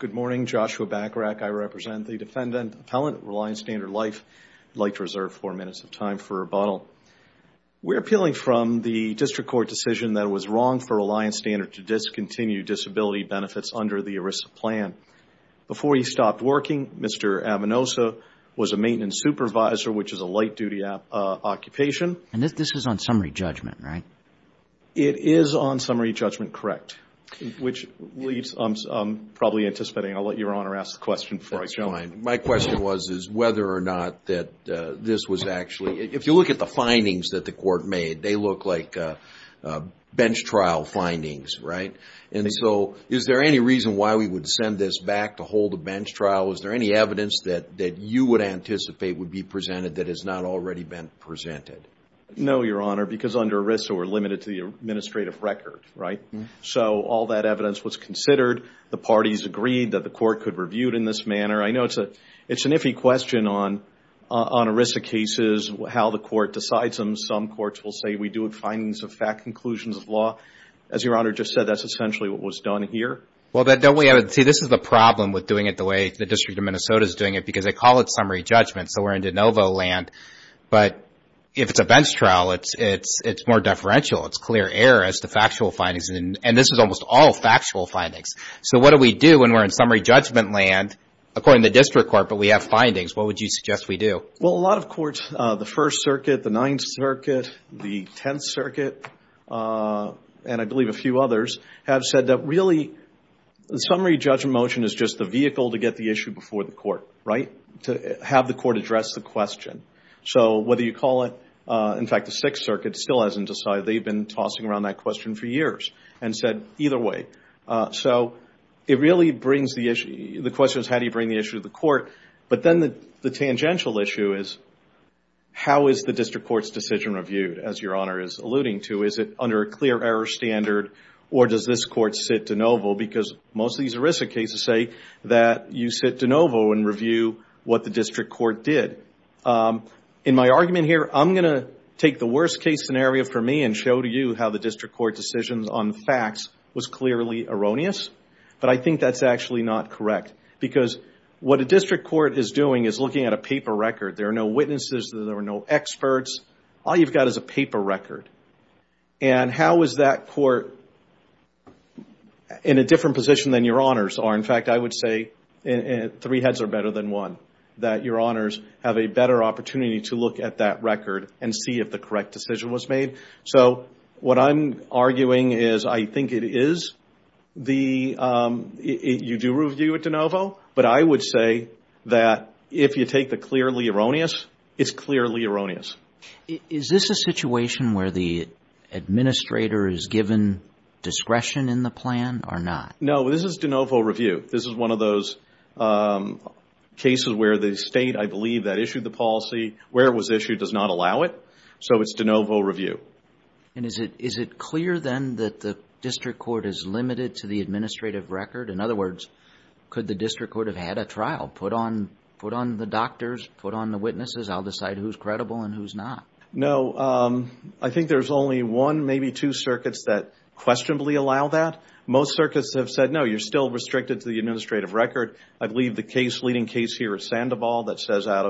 Good morning, Joshua Bacharach. I represent the defendant, Appellant at Reliance Standard Life. I'd like to reserve four minutes of time for rebuttal. We're appealing from the district court decision that it was wrong for Reliance Standard to discontinue disability benefits under the ERISA plan. Before he stopped working, Mr. Avenoso was a maintenance supervisor, which is a light-duty occupation. And this is on summary judgment, right? It is on summary judgment, correct, which leaves I'm probably anticipating, I'll let Your Honor ask the question before I jump in. My question was is whether or not that this was actually, if you look at the findings that the court made, they look like bench trial findings, right? And so is there any reason why we would send this back to hold a bench trial? Is there any evidence that that you would anticipate would be presented that has not already been presented? No, Your Honor, because under ERISA, we're limited to the administrative record, right? So all that evidence was considered. The parties agreed that the court could review it in this manner. I know it's a it's an iffy question on on ERISA cases, how the court decides them. Some courts will say we do it findings of fact, conclusions of law. As Your Honor just said, that's essentially what was done here. Well, then don't we have to see this is the problem with doing it the way the District of Minnesota is doing it because they call it summary judgment. So we're in de novo land, but if it's a bench trial, it's more deferential. It's clear error as to factual findings, and this is almost all factual findings. So what do we do when we're in summary judgment land, according to the District Court, but we have findings? What would you suggest we do? Well, a lot of courts, the First Circuit, the Ninth Circuit, the Tenth Circuit, and I believe a few others, have said that really the summary judgment motion is just the vehicle to get the issue before the court, right? To have the court address the question. So whether you call it, in fact, the Sixth Circuit still hasn't decided. They've been tossing around that question for years and said either way. So it really brings the issue, the question is how do you bring the issue to the court? But then the tangential issue is how is the District Court's decision reviewed? As Your Honor is alluding to, is it under a clear error standard or does this court sit de novo? Because most of these ERISA cases say that you sit de novo and review what the District Court did. In my argument here, I'm going to take the worst case scenario for me and show to you how the District Court decisions on the facts was clearly erroneous, but I think that's actually not correct. Because what a District Court is doing is looking at a paper record. There are no witnesses. There are no experts. All you've got is a paper record. And how is that court in a different position than Your Honors are? In fact, I would say three heads are better than one. That Your Honors have a better opportunity to look at that record and see if the correct decision was made. So what I'm arguing is I think it is the, you do review it de novo, but I would say that if you take the clearly erroneous, it's clearly erroneous. Is this a situation where the administrator is given discretion in the plan or not? No, this is de novo review. This is one of those cases where the state, I believe, that issued the policy, where it was issued, does not allow it. So it's de novo review. And is it clear then that the District Court is limited to the administrative record? In other words, could the District Court have had a trial, put on the doctors, put on the witnesses, I'll decide who's credible and who's not. No, I think there's only one, maybe two circuits that questionably allow that. Most circuits have said, no, you're still restricted to the administrative record. I believe the case, leading case here is Sandoval that says out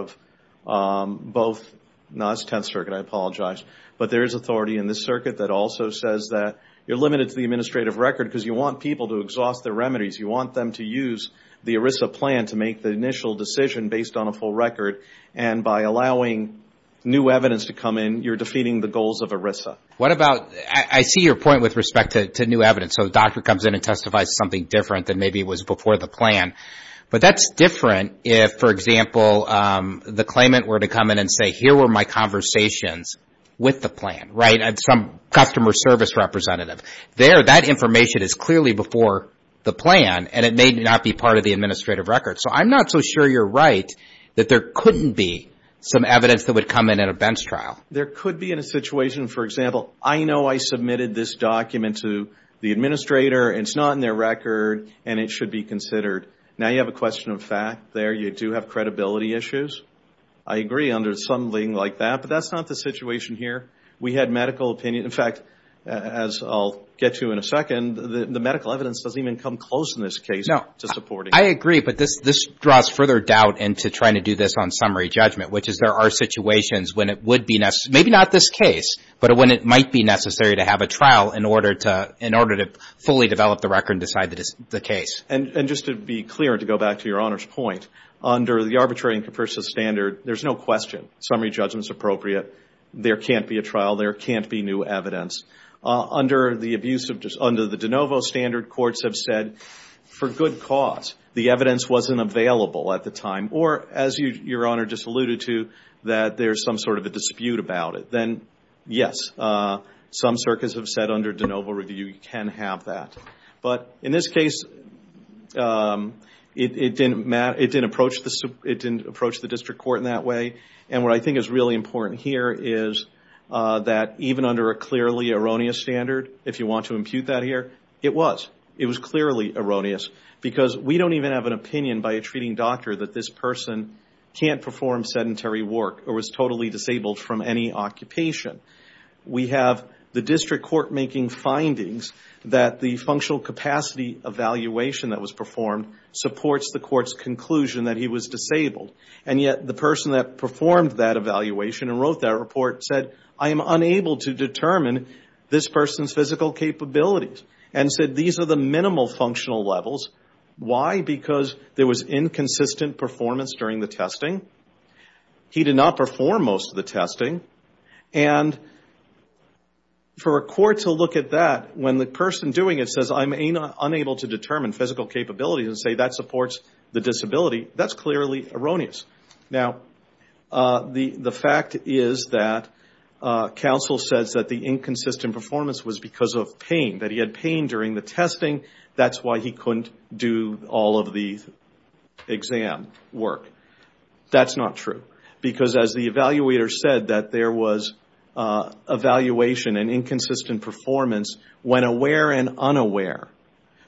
of both, no, it's Tenth Circuit, I apologize. But there is authority in this circuit that also says that you're limited to the administrative record because you want people to exhaust their remedies. You want them to use the ERISA plan to make the initial decision based on a full record. And by allowing new evidence to come in, you're defeating the goals of ERISA. What about, I see your point with respect to new evidence. So the doctor comes in and testifies something different than maybe it was before the plan. But that's different if, for example, the claimant were to come in and say, here were my conversations with the plan, right? And some customer service representative. There, that information is clearly before the plan and it may not be part of the administrative record. So I'm not so sure you're right that there couldn't be some evidence that would come in at a bench trial. There could be in a situation, for example, I know I submitted this document to the administrator. It's not in their record and it should be considered. Now you have a question of fact there. You do have credibility issues. I agree under something like that, but that's not the situation here. We had medical opinion. In fact, as I'll get to in a second, the medical evidence doesn't even come close in this case to supporting. I agree, but this draws further doubt into trying to do this on summary judgment, which is there are situations when it would be necessary, maybe not this case, but when it might be necessary to have a trial in order to fully develop the record and decide that it's the case. And just to be clear, to go back to your Honor's point, under the arbitrary and capricious standard, there's no question summary judgment's appropriate. There can't be a trial. There can't be new evidence. Under the abuse of, under the de novo standard, courts have said for good cause. The evidence wasn't available at the time. Or as your Honor just alluded to, that there's some sort of a dispute about it. Then yes, some circuits have said under de novo review you can have that. But in this case, it didn't matter, it didn't approach the, it didn't approach the district court in that way. And what I think is really important here is that even under a clearly erroneous standard, if you want to impute that here, it was. It was clearly erroneous because we don't even have an evidence that this person can't perform sedentary work or was totally disabled from any occupation. We have the district court making findings that the functional capacity evaluation that was performed supports the court's conclusion that he was disabled. And yet the person that performed that evaluation and wrote that report said, I am unable to determine this person's physical capabilities. And said, these are the minimal functional levels. Why? Because there was inconsistent performance during the testing. He did not perform most of the testing. And for a court to look at that when the person doing it says, I'm unable to determine physical capabilities and say that supports the disability, that's clearly erroneous. Now, the fact is that counsel says that the inconsistent performance was because of pain, that he had pain during the testing, that's why he couldn't do all of the exam work. That's not true. Because as the evaluator said that there was evaluation and inconsistent performance when aware and unaware.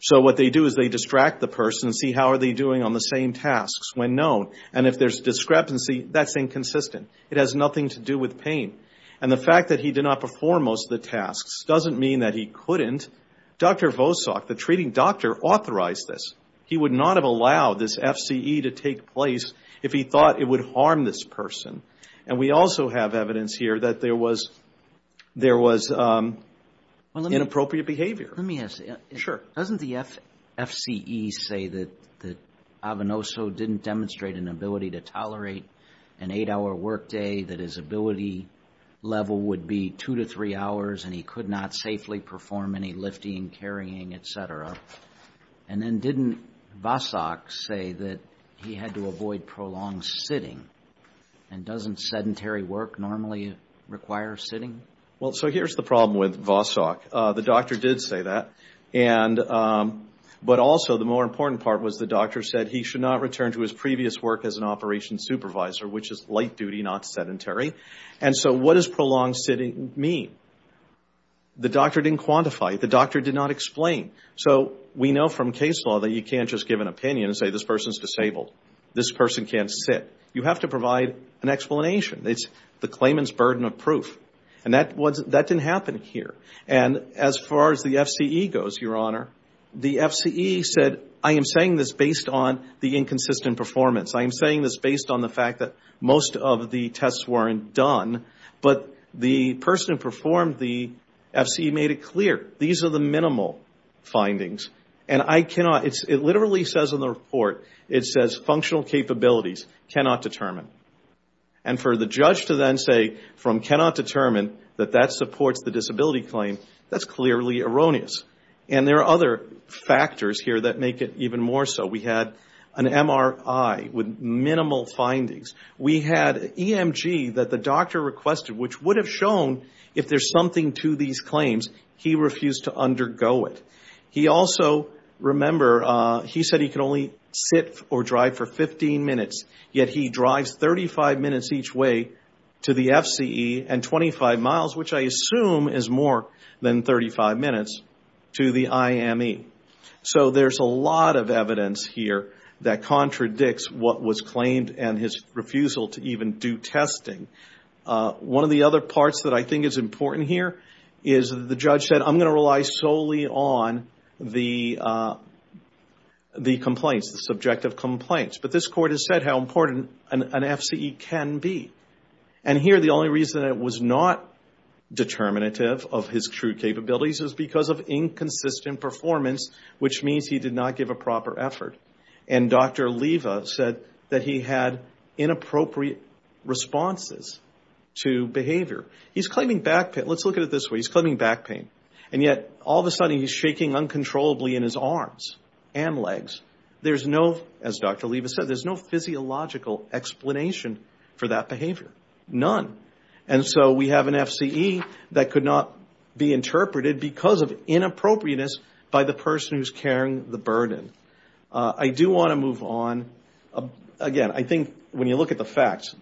So what they do is they distract the person, see how are they doing on the same tasks when known. And if there's discrepancy, that's inconsistent. It has nothing to do with pain. And the fact that he did not perform most of the tasks doesn't mean that he couldn't. Dr. Vosak, the treating doctor authorized this. He would not have allowed this FCE to take place if he thought it would harm this person. And we also have evidence here that there was inappropriate behavior. Let me ask you. Doesn't the FCE say that Avanoso didn't demonstrate an ability to tolerate an eight-hour workday, that his ability level would be two to three hours, and he could not safely perform any lifting, carrying, et cetera? And then didn't Vosak say that he had to avoid prolonged sitting? And doesn't sedentary work normally require sitting? Well, so here's the problem with Vosak. The doctor did say that. But also, the more important part was the doctor said he should not return to his previous work as an operations supervisor, which is light duty, not sedentary. And so what does prolonged sitting mean? The doctor didn't quantify. The doctor did not explain. So we know from case law that you can't just give an opinion and say, this person's disabled. This person can't sit. You have to provide an explanation. It's the claimant's burden of proof. And that didn't happen here. And as far as the FCE goes, Your Honor, the FCE said, I am saying this based on the inconsistent performance. I am saying this based on the fact that most of the tests weren't done. But the person who performed the FCE made it clear, these are the minimal findings. And it literally says in the report, it says functional capabilities cannot determine. And for the judge to then say cannot determine that that supports the disability claim, that's clearly erroneous. And there are other factors here that make it even more so. We had an MRI with minimal findings. We had EMG that the doctor requested, which would have shown if there's something to these claims, he refused to undergo it. He also, remember, he said he could only sit or drive for 15 minutes. Yet he drives 35 minutes each way to the FCE and 25 miles, which I assume is more than 35 minutes, to the IME. So there's a lot of evidence here that contradicts what was claimed and his refusal to even do testing. One of the other parts that I think is important here is the judge said, I'm going to rely solely on the complaints, the subjective complaints. But this court has said how important an FCE can be. And here the only reason it was not determinative of his true capabilities is because of inconsistent performance, which means he did not give a proper effort. And Dr. Leva said that he had inappropriate responses to behavior. He's claiming back pain. Let's look at it this way. He's claiming back pain. And yet all of a sudden he's shaking uncontrollably in his arms and legs. There's as Dr. Leva said, there's no physiological explanation for that behavior. None. And so we have an FCE that could not be interpreted because of inappropriateness by the person who's carrying the burden. I do want to move on. Again, I think when you look at the facts,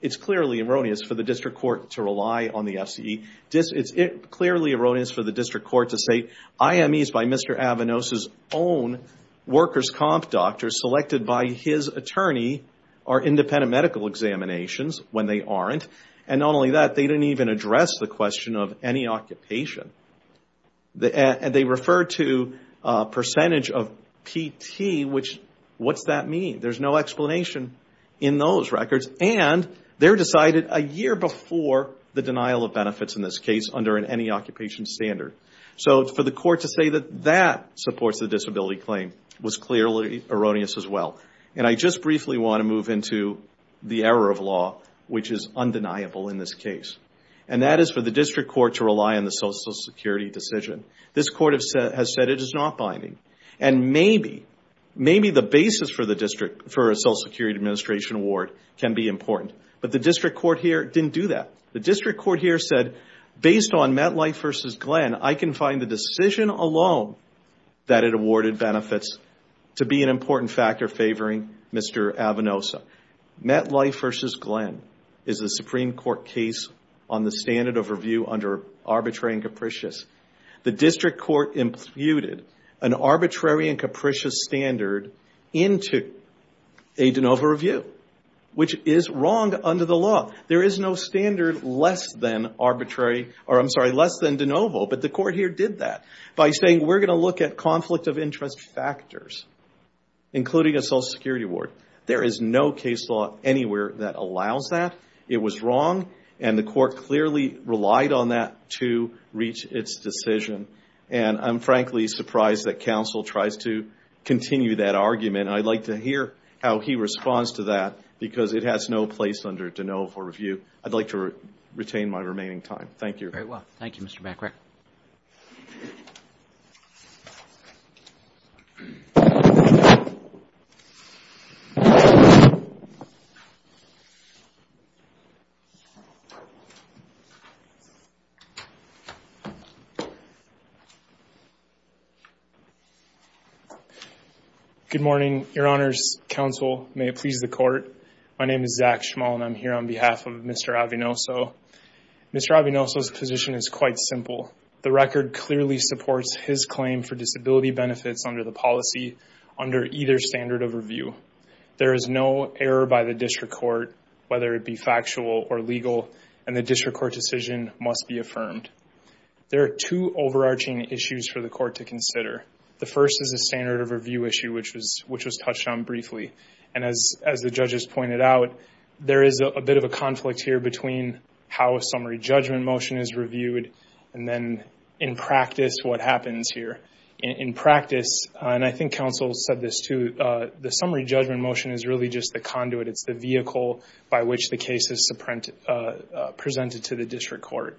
it's clearly erroneous for the district court to rely on the FCE. It's clearly erroneous for the district court to say IMEs by Mr. Avanos' own workers' comp doctor selected by his attorney are independent medical examinations when they aren't. And not only that, they didn't even address the question of any occupation. They referred to a percentage of PT, which what's that mean? There's no explanation in those records. And they're decided a year before the denial of benefits in this case under any occupation standard. So for the court to say that that supports the disability claim was clearly erroneous as well. And I just briefly want to move into the error of law, which is undeniable in this case. And that is for the district court to rely on the social security decision. This court has said it is not binding. And maybe the basis for a social security administration award can be important. But the district court didn't do that. The district court here said based on MetLife versus Glenn, I can find the decision alone that it awarded benefits to be an important factor favoring Mr. Avanosa. MetLife versus Glenn is a Supreme Court case on the standard of review under arbitrary and capricious. The district court imputed an arbitrary and capricious standard into a de novo review, which is wrong under the law. There is no standard less than arbitrary, or I'm sorry, less than de novo. But the court here did that by saying we're going to look at conflict of interest factors, including a social security award. There is no case law anywhere that allows that. It was wrong. And the court clearly relied on that to reach its decision. And I'm he responds to that, because it has no place under de novo review. I'd like to retain my remaining time. Thank you. Very well. Thank you, Mr. McRick. Good morning, Your Honors. Counsel, may it please the court. My name is Zach Schmal and I'm here on behalf of Mr. Avanosa. Mr. Avanosa's position is quite simple. The record clearly supports his claim for disability benefits under the policy under either standard of review. There is no error by the district court, whether it be factual or legal, and the district court decision must be affirmed. There are two overarching issues for the court to consider. The first is a standard of review issue, which was touched on briefly. And as the judges pointed out, there is a bit of a conflict here between how a summary judgment motion is reviewed and then in practice what happens here. In practice, and I think counsel said this too, the summary judgment motion is really just the conduit. It's the vehicle by which the case is presented to the district court.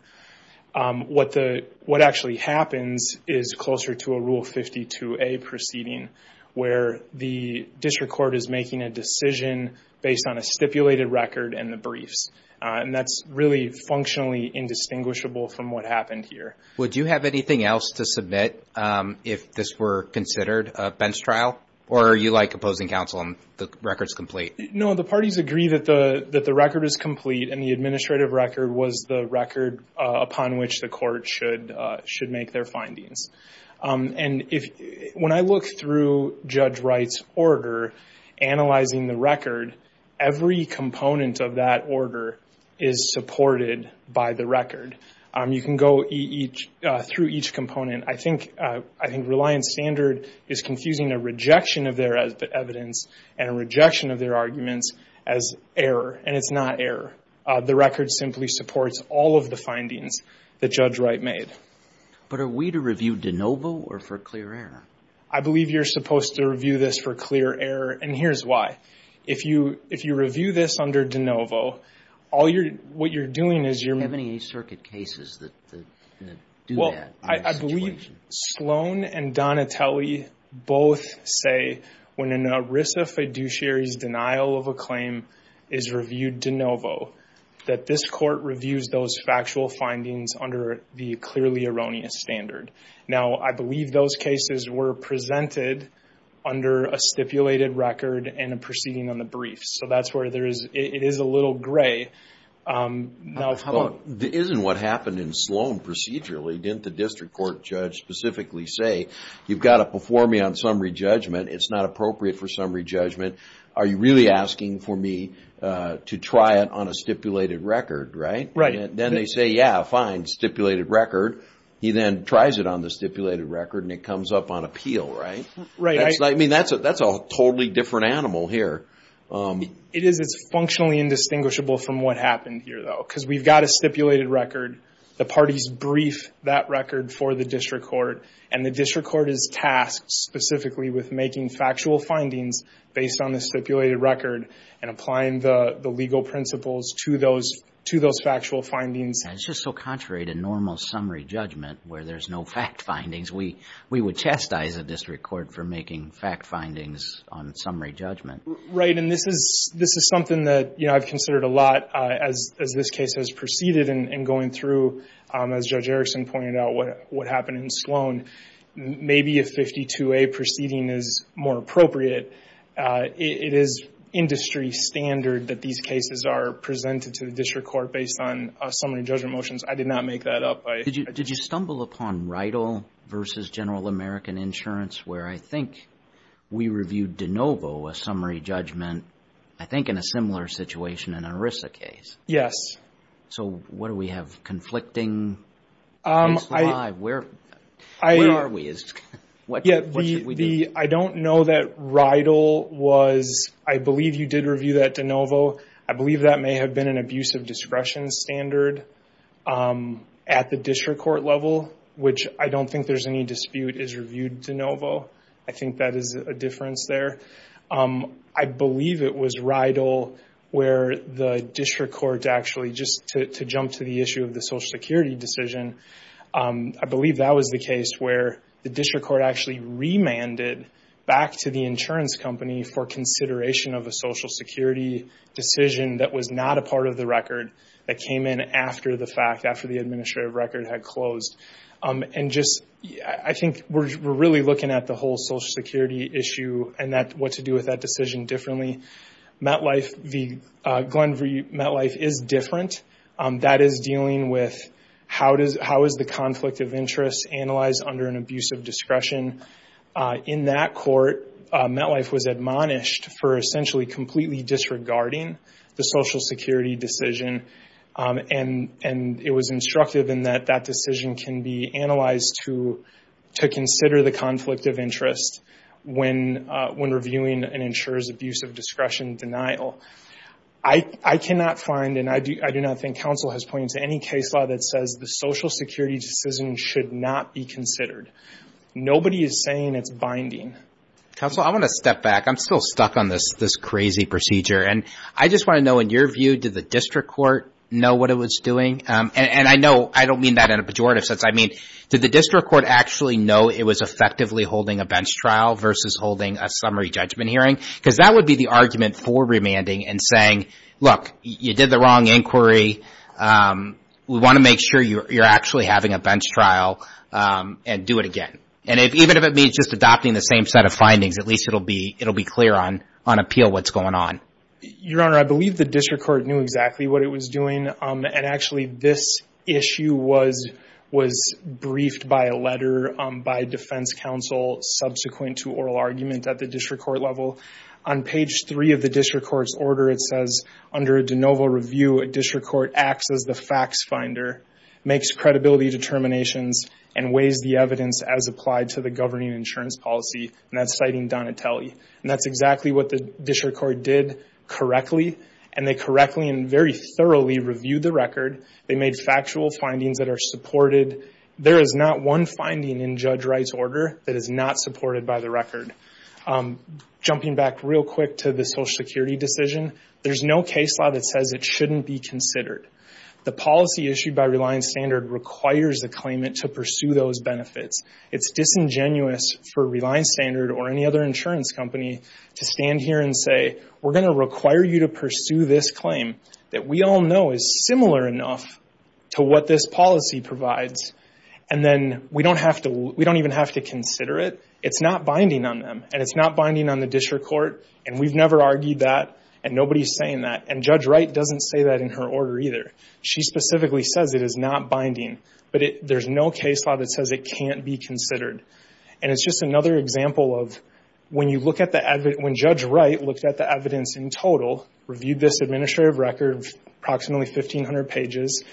What actually happens is closer to a Rule 52A proceeding, where the district court is making a decision based on a stipulated record and the briefs. And that's really functionally indistinguishable from what happened here. Would you have anything else to submit if this were considered a bench trial? Or are you like opposing counsel and the record's complete? No, the parties agree that the record is complete and the administrative record was the record upon which the court should make their findings. And when I look through Judge Wright's order, analyzing the record, every component of that order is supported by the record. You can go through each component. I think Reliance Standard is confusing a rejection of their evidence and a rejection of their arguments as error. And it's not error. The record simply supports all of the findings that Judge Wright made. But are we to review de novo or for clear error? I believe you're supposed to review this for clear error. And here's why. If you review this under de novo, all you're, what you're doing is you're... How many East Circuit cases that do that? Well, I believe Sloan and Donatelli both say when an ERISA fiduciary's denial of a claim is reviewed de novo, that this court reviews those factual findings under the clearly erroneous standard. Now, I believe those cases were presented under a stipulated record and a proceeding on the brief. So that's where there is, it is a little gray. Now, how about... Isn't what happened in Sloan procedurally, didn't the district court judge specifically say, you've got to perform me on summary judgment. It's not appropriate for summary judgment. Are you really asking for me to try it on a stipulated record, right? Right. Then they say, yeah, fine, stipulated record. He then tries it on the stipulated record and it comes up on appeal, right? Right. I mean, that's a totally different animal here. It is. It's functionally indistinguishable from what happened here, though. Because we've got a stipulated record. The parties brief that record for the district court. And the district court is tasked specifically with making factual findings based on the stipulated record and applying the legal principles to those factual findings. And it's just so contrary to normal summary judgment where there's no fact findings. We would chastise a district court for making fact findings on summary judgment. Right. And this is something that I've considered a lot as this case has proceeded and going through, as Judge Erickson pointed out, what happened in Sloan. Maybe a 52A proceeding is more appropriate. It is industry standard that these cases are presented to the district court based on summary judgment motions. I did not make that up. Did you stumble upon RIDL versus General American Insurance where I think we reviewed DeNovo, a summary judgment, I think in a similar situation in an ERISA case? Yes. So what do we have conflicting? Where are we? Yeah. I don't know that RIDL was, I believe you did review that DeNovo. I believe that may have been an abuse of discretion standard at the district court level, which I don't think there's any dispute is reviewed DeNovo. I think that is a difference there. I believe it was RIDL where the district court actually, just to jump to the issue of the Social Security decision, I believe that was the case where the district court actually remanded back to the insurance company for consideration of a Social Security decision that was not a part of the record, that came in after the fact, after the administrative record had closed. I think we're really looking at the whole Social Security issue and what to do with how is the conflict of interest analyzed under an abuse of discretion. In that court, MetLife was admonished for essentially completely disregarding the Social Security decision, and it was instructive in that that decision can be analyzed to consider the conflict of interest when reviewing an insurer's abuse of discretion denial. I cannot find, and I do not think counsel has pointed to any case law that says the Social Security decision should not be considered. Nobody is saying it's binding. Counsel, I want to step back. I'm still stuck on this crazy procedure. I just want to know, in your view, did the district court know what it was doing? I know I don't mean that in a pejorative sense. I mean, did the district court actually know it was effectively holding a bench trial versus holding a summary judgment hearing? Because that would be the argument for remanding and saying, look, you did the wrong inquiry. We want to make sure you're actually having a bench trial and do it again. Even if it means just adopting the same set of findings, at least it'll be clear on appeal what's going on. Your Honor, I believe the district court knew exactly what it was doing. Actually, this issue was briefed by a letter by defense counsel subsequent to oral argument at the district court level. On page three of the district court's order, it says, under a de novo review, a district court acts as the facts finder, makes credibility determinations, and weighs the evidence as applied to the governing insurance policy. That's citing Donatelli. That's exactly what the district court did correctly. They correctly and very thoroughly reviewed the record. They made factual findings that are supported. There is not one finding in Judge Wright's order that is not supported by the record. Jumping back real quick to the Social Security decision, there's no case law that says it shouldn't be considered. The policy issued by Reliance Standard requires the claimant to pursue those benefits. It's disingenuous for Reliance Standard or any other insurance company to stand here and say, we're going to require you to pursue this claim that we all know is similar enough to what this policy provides. We don't even have to consider it. It's not binding on them. It's not binding on the district court. We've never argued that. Nobody's saying that. Judge Wright doesn't say that in her order either. She specifically says it is not binding. There's no case law that says it can't be considered. It's just another example of when Judge Wright looked at the evidence in total, reviewed this administrative record, approximately 1,500 pages,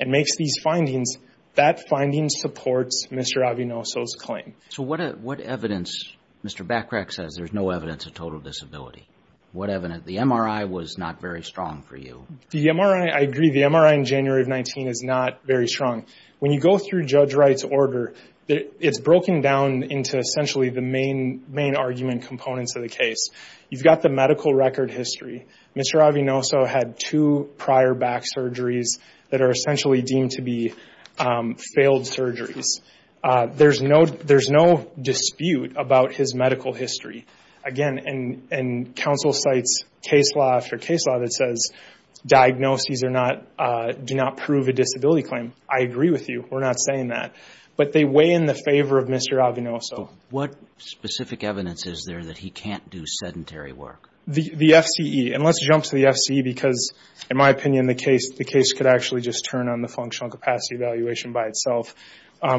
and makes these findings, that finding supports Mr. Avinoso's claim. So what evidence, Mr. Backrack says there's no evidence of total disability. What evidence? The MRI was not very strong for you. The MRI, I agree. The MRI in January of 19 is not very strong. When you go through Judge Wright's order, it's broken down into essentially the main argument components of the case. You've got the prior back surgeries that are essentially deemed to be failed surgeries. There's no dispute about his medical history. Again, and counsel cites case law after case law that says diagnoses do not prove a disability claim. I agree with you. We're not saying that. But they weigh in the favor of Mr. Avinoso. What specific evidence is there that he can't do sedentary work? The FCE. Let's jump to the FCE because, in my opinion, the case could actually just turn on the functional capacity evaluation by itself,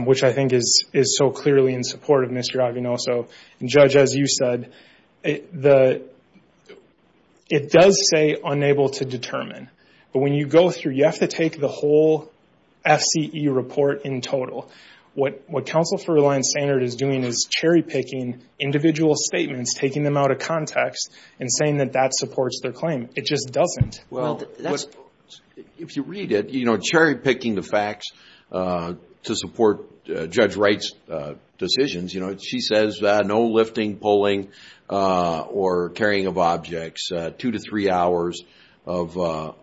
which I think is so clearly in support of Mr. Avinoso. Judge, as you said, it does say unable to determine. But when you go through, you have to take the whole FCE report in total. What Counsel for Reliance Standard is doing is saying that that supports their claim. It just doesn't. If you read it, cherry picking the facts to support Judge Wright's decisions. She says no lifting, pulling, or carrying of objects. Two to three hours of work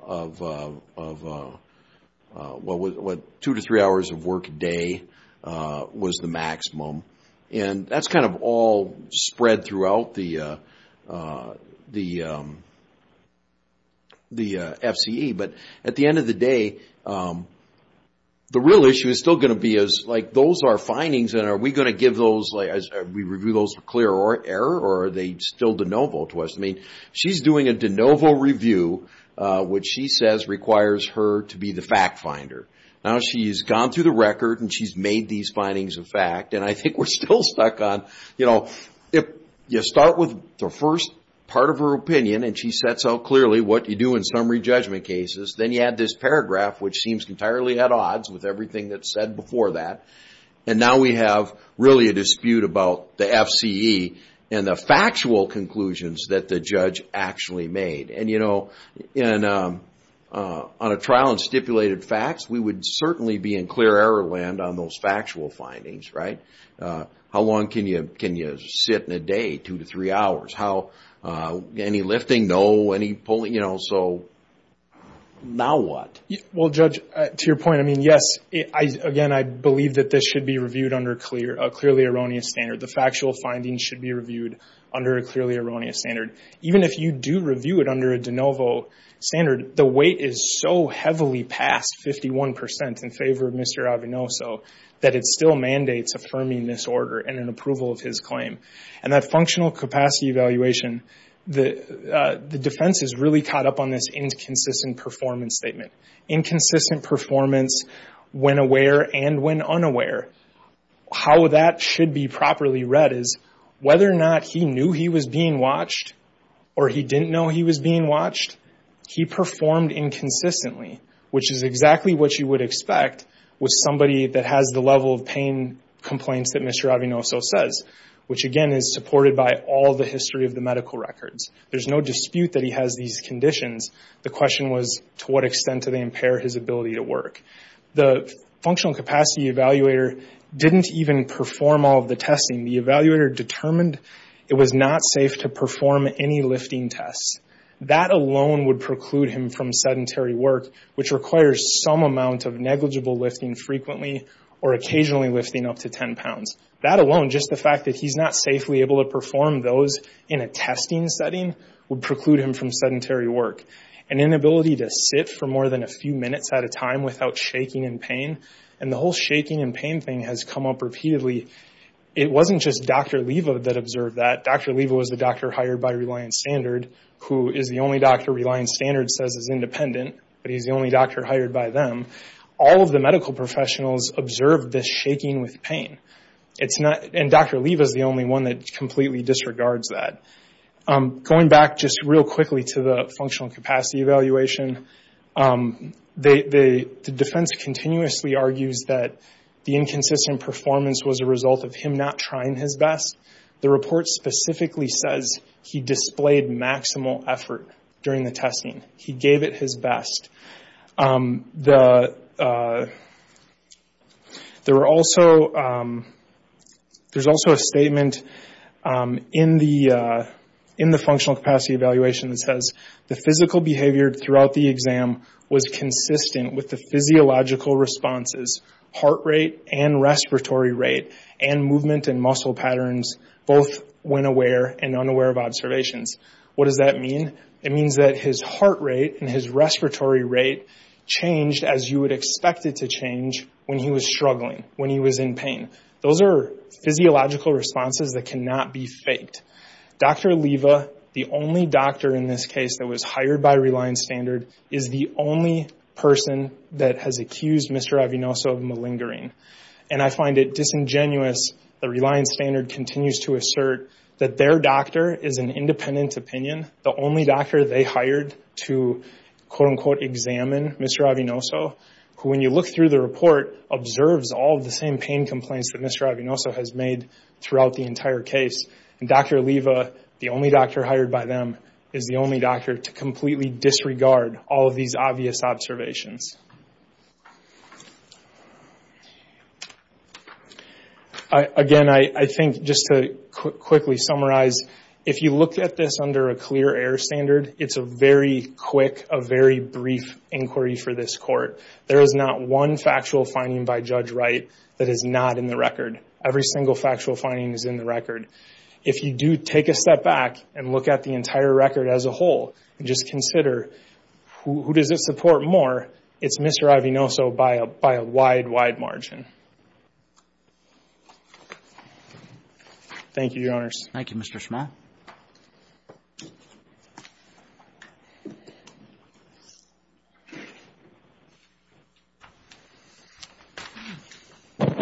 a day was the maximum. That's kind of all spread throughout the FCE. But at the end of the day, the real issue is still going to be those are findings. Are we going to review those for clear error or are they still de novo to us? She's doing a de novo review, which she says requires her to be the fact finder. Now she's gone through the record and she's made these conclusions. If you start with the first part of her opinion and she sets out clearly what you do in summary judgment cases, then you add this paragraph, which seems entirely at odds with everything that's said before that. Now we have really a dispute about the FCE and the factual conclusions that the judge actually made. On a trial and stipulated facts, we would certainly be in clear error land on those factual findings, right? How long can you sit in a day, two to three hours? Any lifting, no? Any pulling? Now what? Judge, to your point, yes. Again, I believe that this should be reviewed under a clearly erroneous standard. The factual findings should be reviewed under a clearly erroneous standard. Even if you review it under a de novo standard, the weight is so heavily past 51% in favor of Mr. Avenoso that it still mandates affirming this order and an approval of his claim. In that functional capacity evaluation, the defense is really caught up on this inconsistent performance statement. Inconsistent performance when aware and when unaware. How that should be being watched? He performed inconsistently, which is exactly what you would expect with somebody that has the level of pain complaints that Mr. Avenoso says, which again is supported by all the history of the medical records. There's no dispute that he has these conditions. The question was to what extent do they impair his ability to work? The functional capacity evaluator didn't even perform all of the testing. The evaluator determined it was not safe to That alone would preclude him from sedentary work, which requires some amount of negligible lifting frequently or occasionally lifting up to 10 pounds. That alone, just the fact that he's not safely able to perform those in a testing setting, would preclude him from sedentary work. An inability to sit for more than a few minutes at a time without shaking in pain. The whole shaking and pain thing has come up repeatedly. It wasn't just Dr. Leva that observed that. Dr. Leva was the doctor hired by Reliance Standard, who is the only doctor Reliance Standard says is independent, but he's the only doctor hired by them. All of the medical professionals observed this shaking with pain. Dr. Leva is the only one that completely disregards that. Going back just real quickly to the functional capacity evaluation, the defense continuously argues that the inconsistent performance was a result of him not trying his best. The report specifically says he displayed maximal effort during the testing. He gave it his best. There's also a statement in the functional capacity evaluation that says, the physical behavior throughout the exam was consistent with the physiological responses, heart rate and respiratory rate, and movement and muscle patterns, both when aware and unaware of observations. What does that mean? It means that his heart rate and his respiratory rate changed as you would expect it to change when he was struggling, when he was in pain. Those are physiological responses that cannot be faked. Dr. Leva, the only doctor in this case that was hired by Reliance Standard, is the only person that has accused Mr. Avinoso of malingering. I find it disingenuous that Reliance Standard continues to assert that their doctor is an independent opinion, the only doctor they hired to quote-unquote examine Mr. Avinoso, who when you look through the report, observes all of the same pain complaints that Mr. Avinoso has made throughout the entire case. Dr. Leva, the only doctor hired by them, is the only doctor to completely disregard all of these obvious observations. Again, I think just to quickly summarize, if you look at this under a clear air standard, it's a very quick, a very brief inquiry for this court. There is not one factual finding by Judge Wright that is not in the record. Every single factual finding is in the record. If you do take a step back and look at the entire record as a whole, and just consider who does it support more, it's Mr. Avinoso by a wide, wide margin. Thank you, Your Honors. Thank you, Mr. Schma. I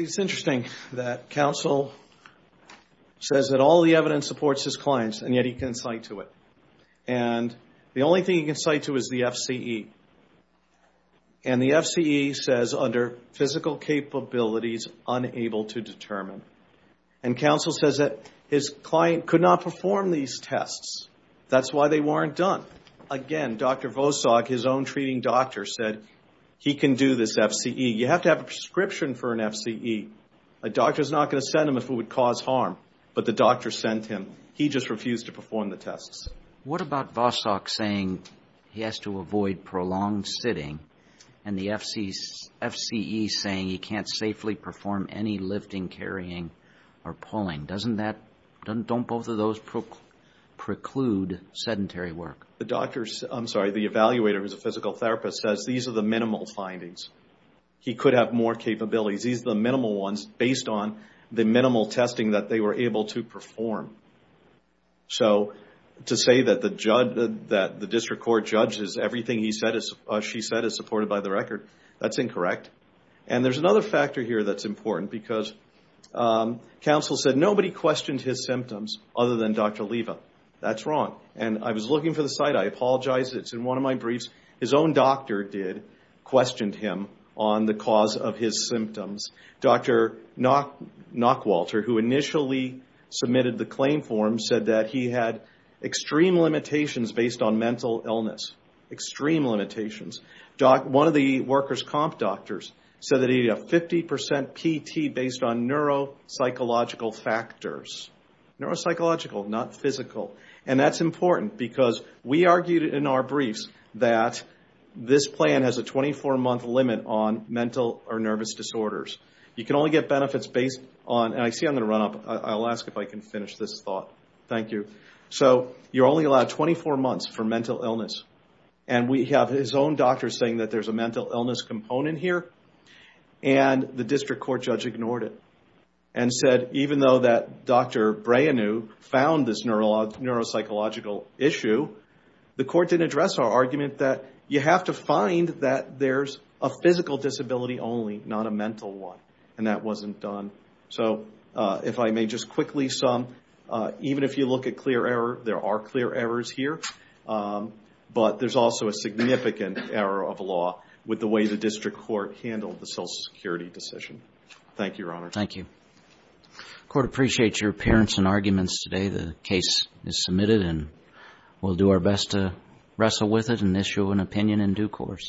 think it's interesting that counsel says that all the evidence supports his clients, and yet he can cite to it. And the only thing he can cite to is the FCE. And the FCE says under physical capabilities unable to determine. And counsel says that his client could not perform these tests. That's why they weren't done. Again, Dr. Vosak, his own treating doctor, said he can do this FCE. You have to have a prescription for an FCE. A doctor's not going to send him if it would cause harm, but the doctor sent him. He just refused to perform the tests. What about Vosak saying he has to avoid prolonged sitting, and the FCE saying he can't. Don't both of those preclude sedentary work? The doctor, I'm sorry, the evaluator who's a physical therapist says these are the minimal findings. He could have more capabilities. These are the minimal ones based on the minimal testing that they were able to perform. So to say that the district court judges everything he said, she said, is supported by the record, that's incorrect. And there's another factor here that's other than Dr. Leva. That's wrong. And I was looking for the site. I apologize. It's in one of my briefs. His own doctor did, questioned him on the cause of his symptoms. Dr. Knockwalter, who initially submitted the claim form, said that he had extreme limitations based on mental illness. Extreme limitations. One of the workers' comp doctors said that he had 50% PT based on neuropsychological factors. Neuropsychological, not physical. And that's important because we argued in our briefs that this plan has a 24 month limit on mental or nervous disorders. You can only get benefits based on, and I see I'm going to run up. I'll ask if I can finish this thought. Thank you. So you're only allowed 24 months for mental illness. And we have his own doctor saying that there's a mental illness component here. And the district court judge ignored it. And said even though that Dr. Breanu found this neuropsychological issue, the court didn't address our argument that you have to find that there's a physical disability only, not a mental one. And that wasn't done. So if I may just quickly sum, even if you look at clear error, there are clear errors here. But there's also a significant error of law with the way the district court handled the social security decision. Thank you, Your Honor. Thank you. Court appreciates your appearance and arguments today. The case is submitted and we'll do our best to wrestle with it and issue an opinion in due course.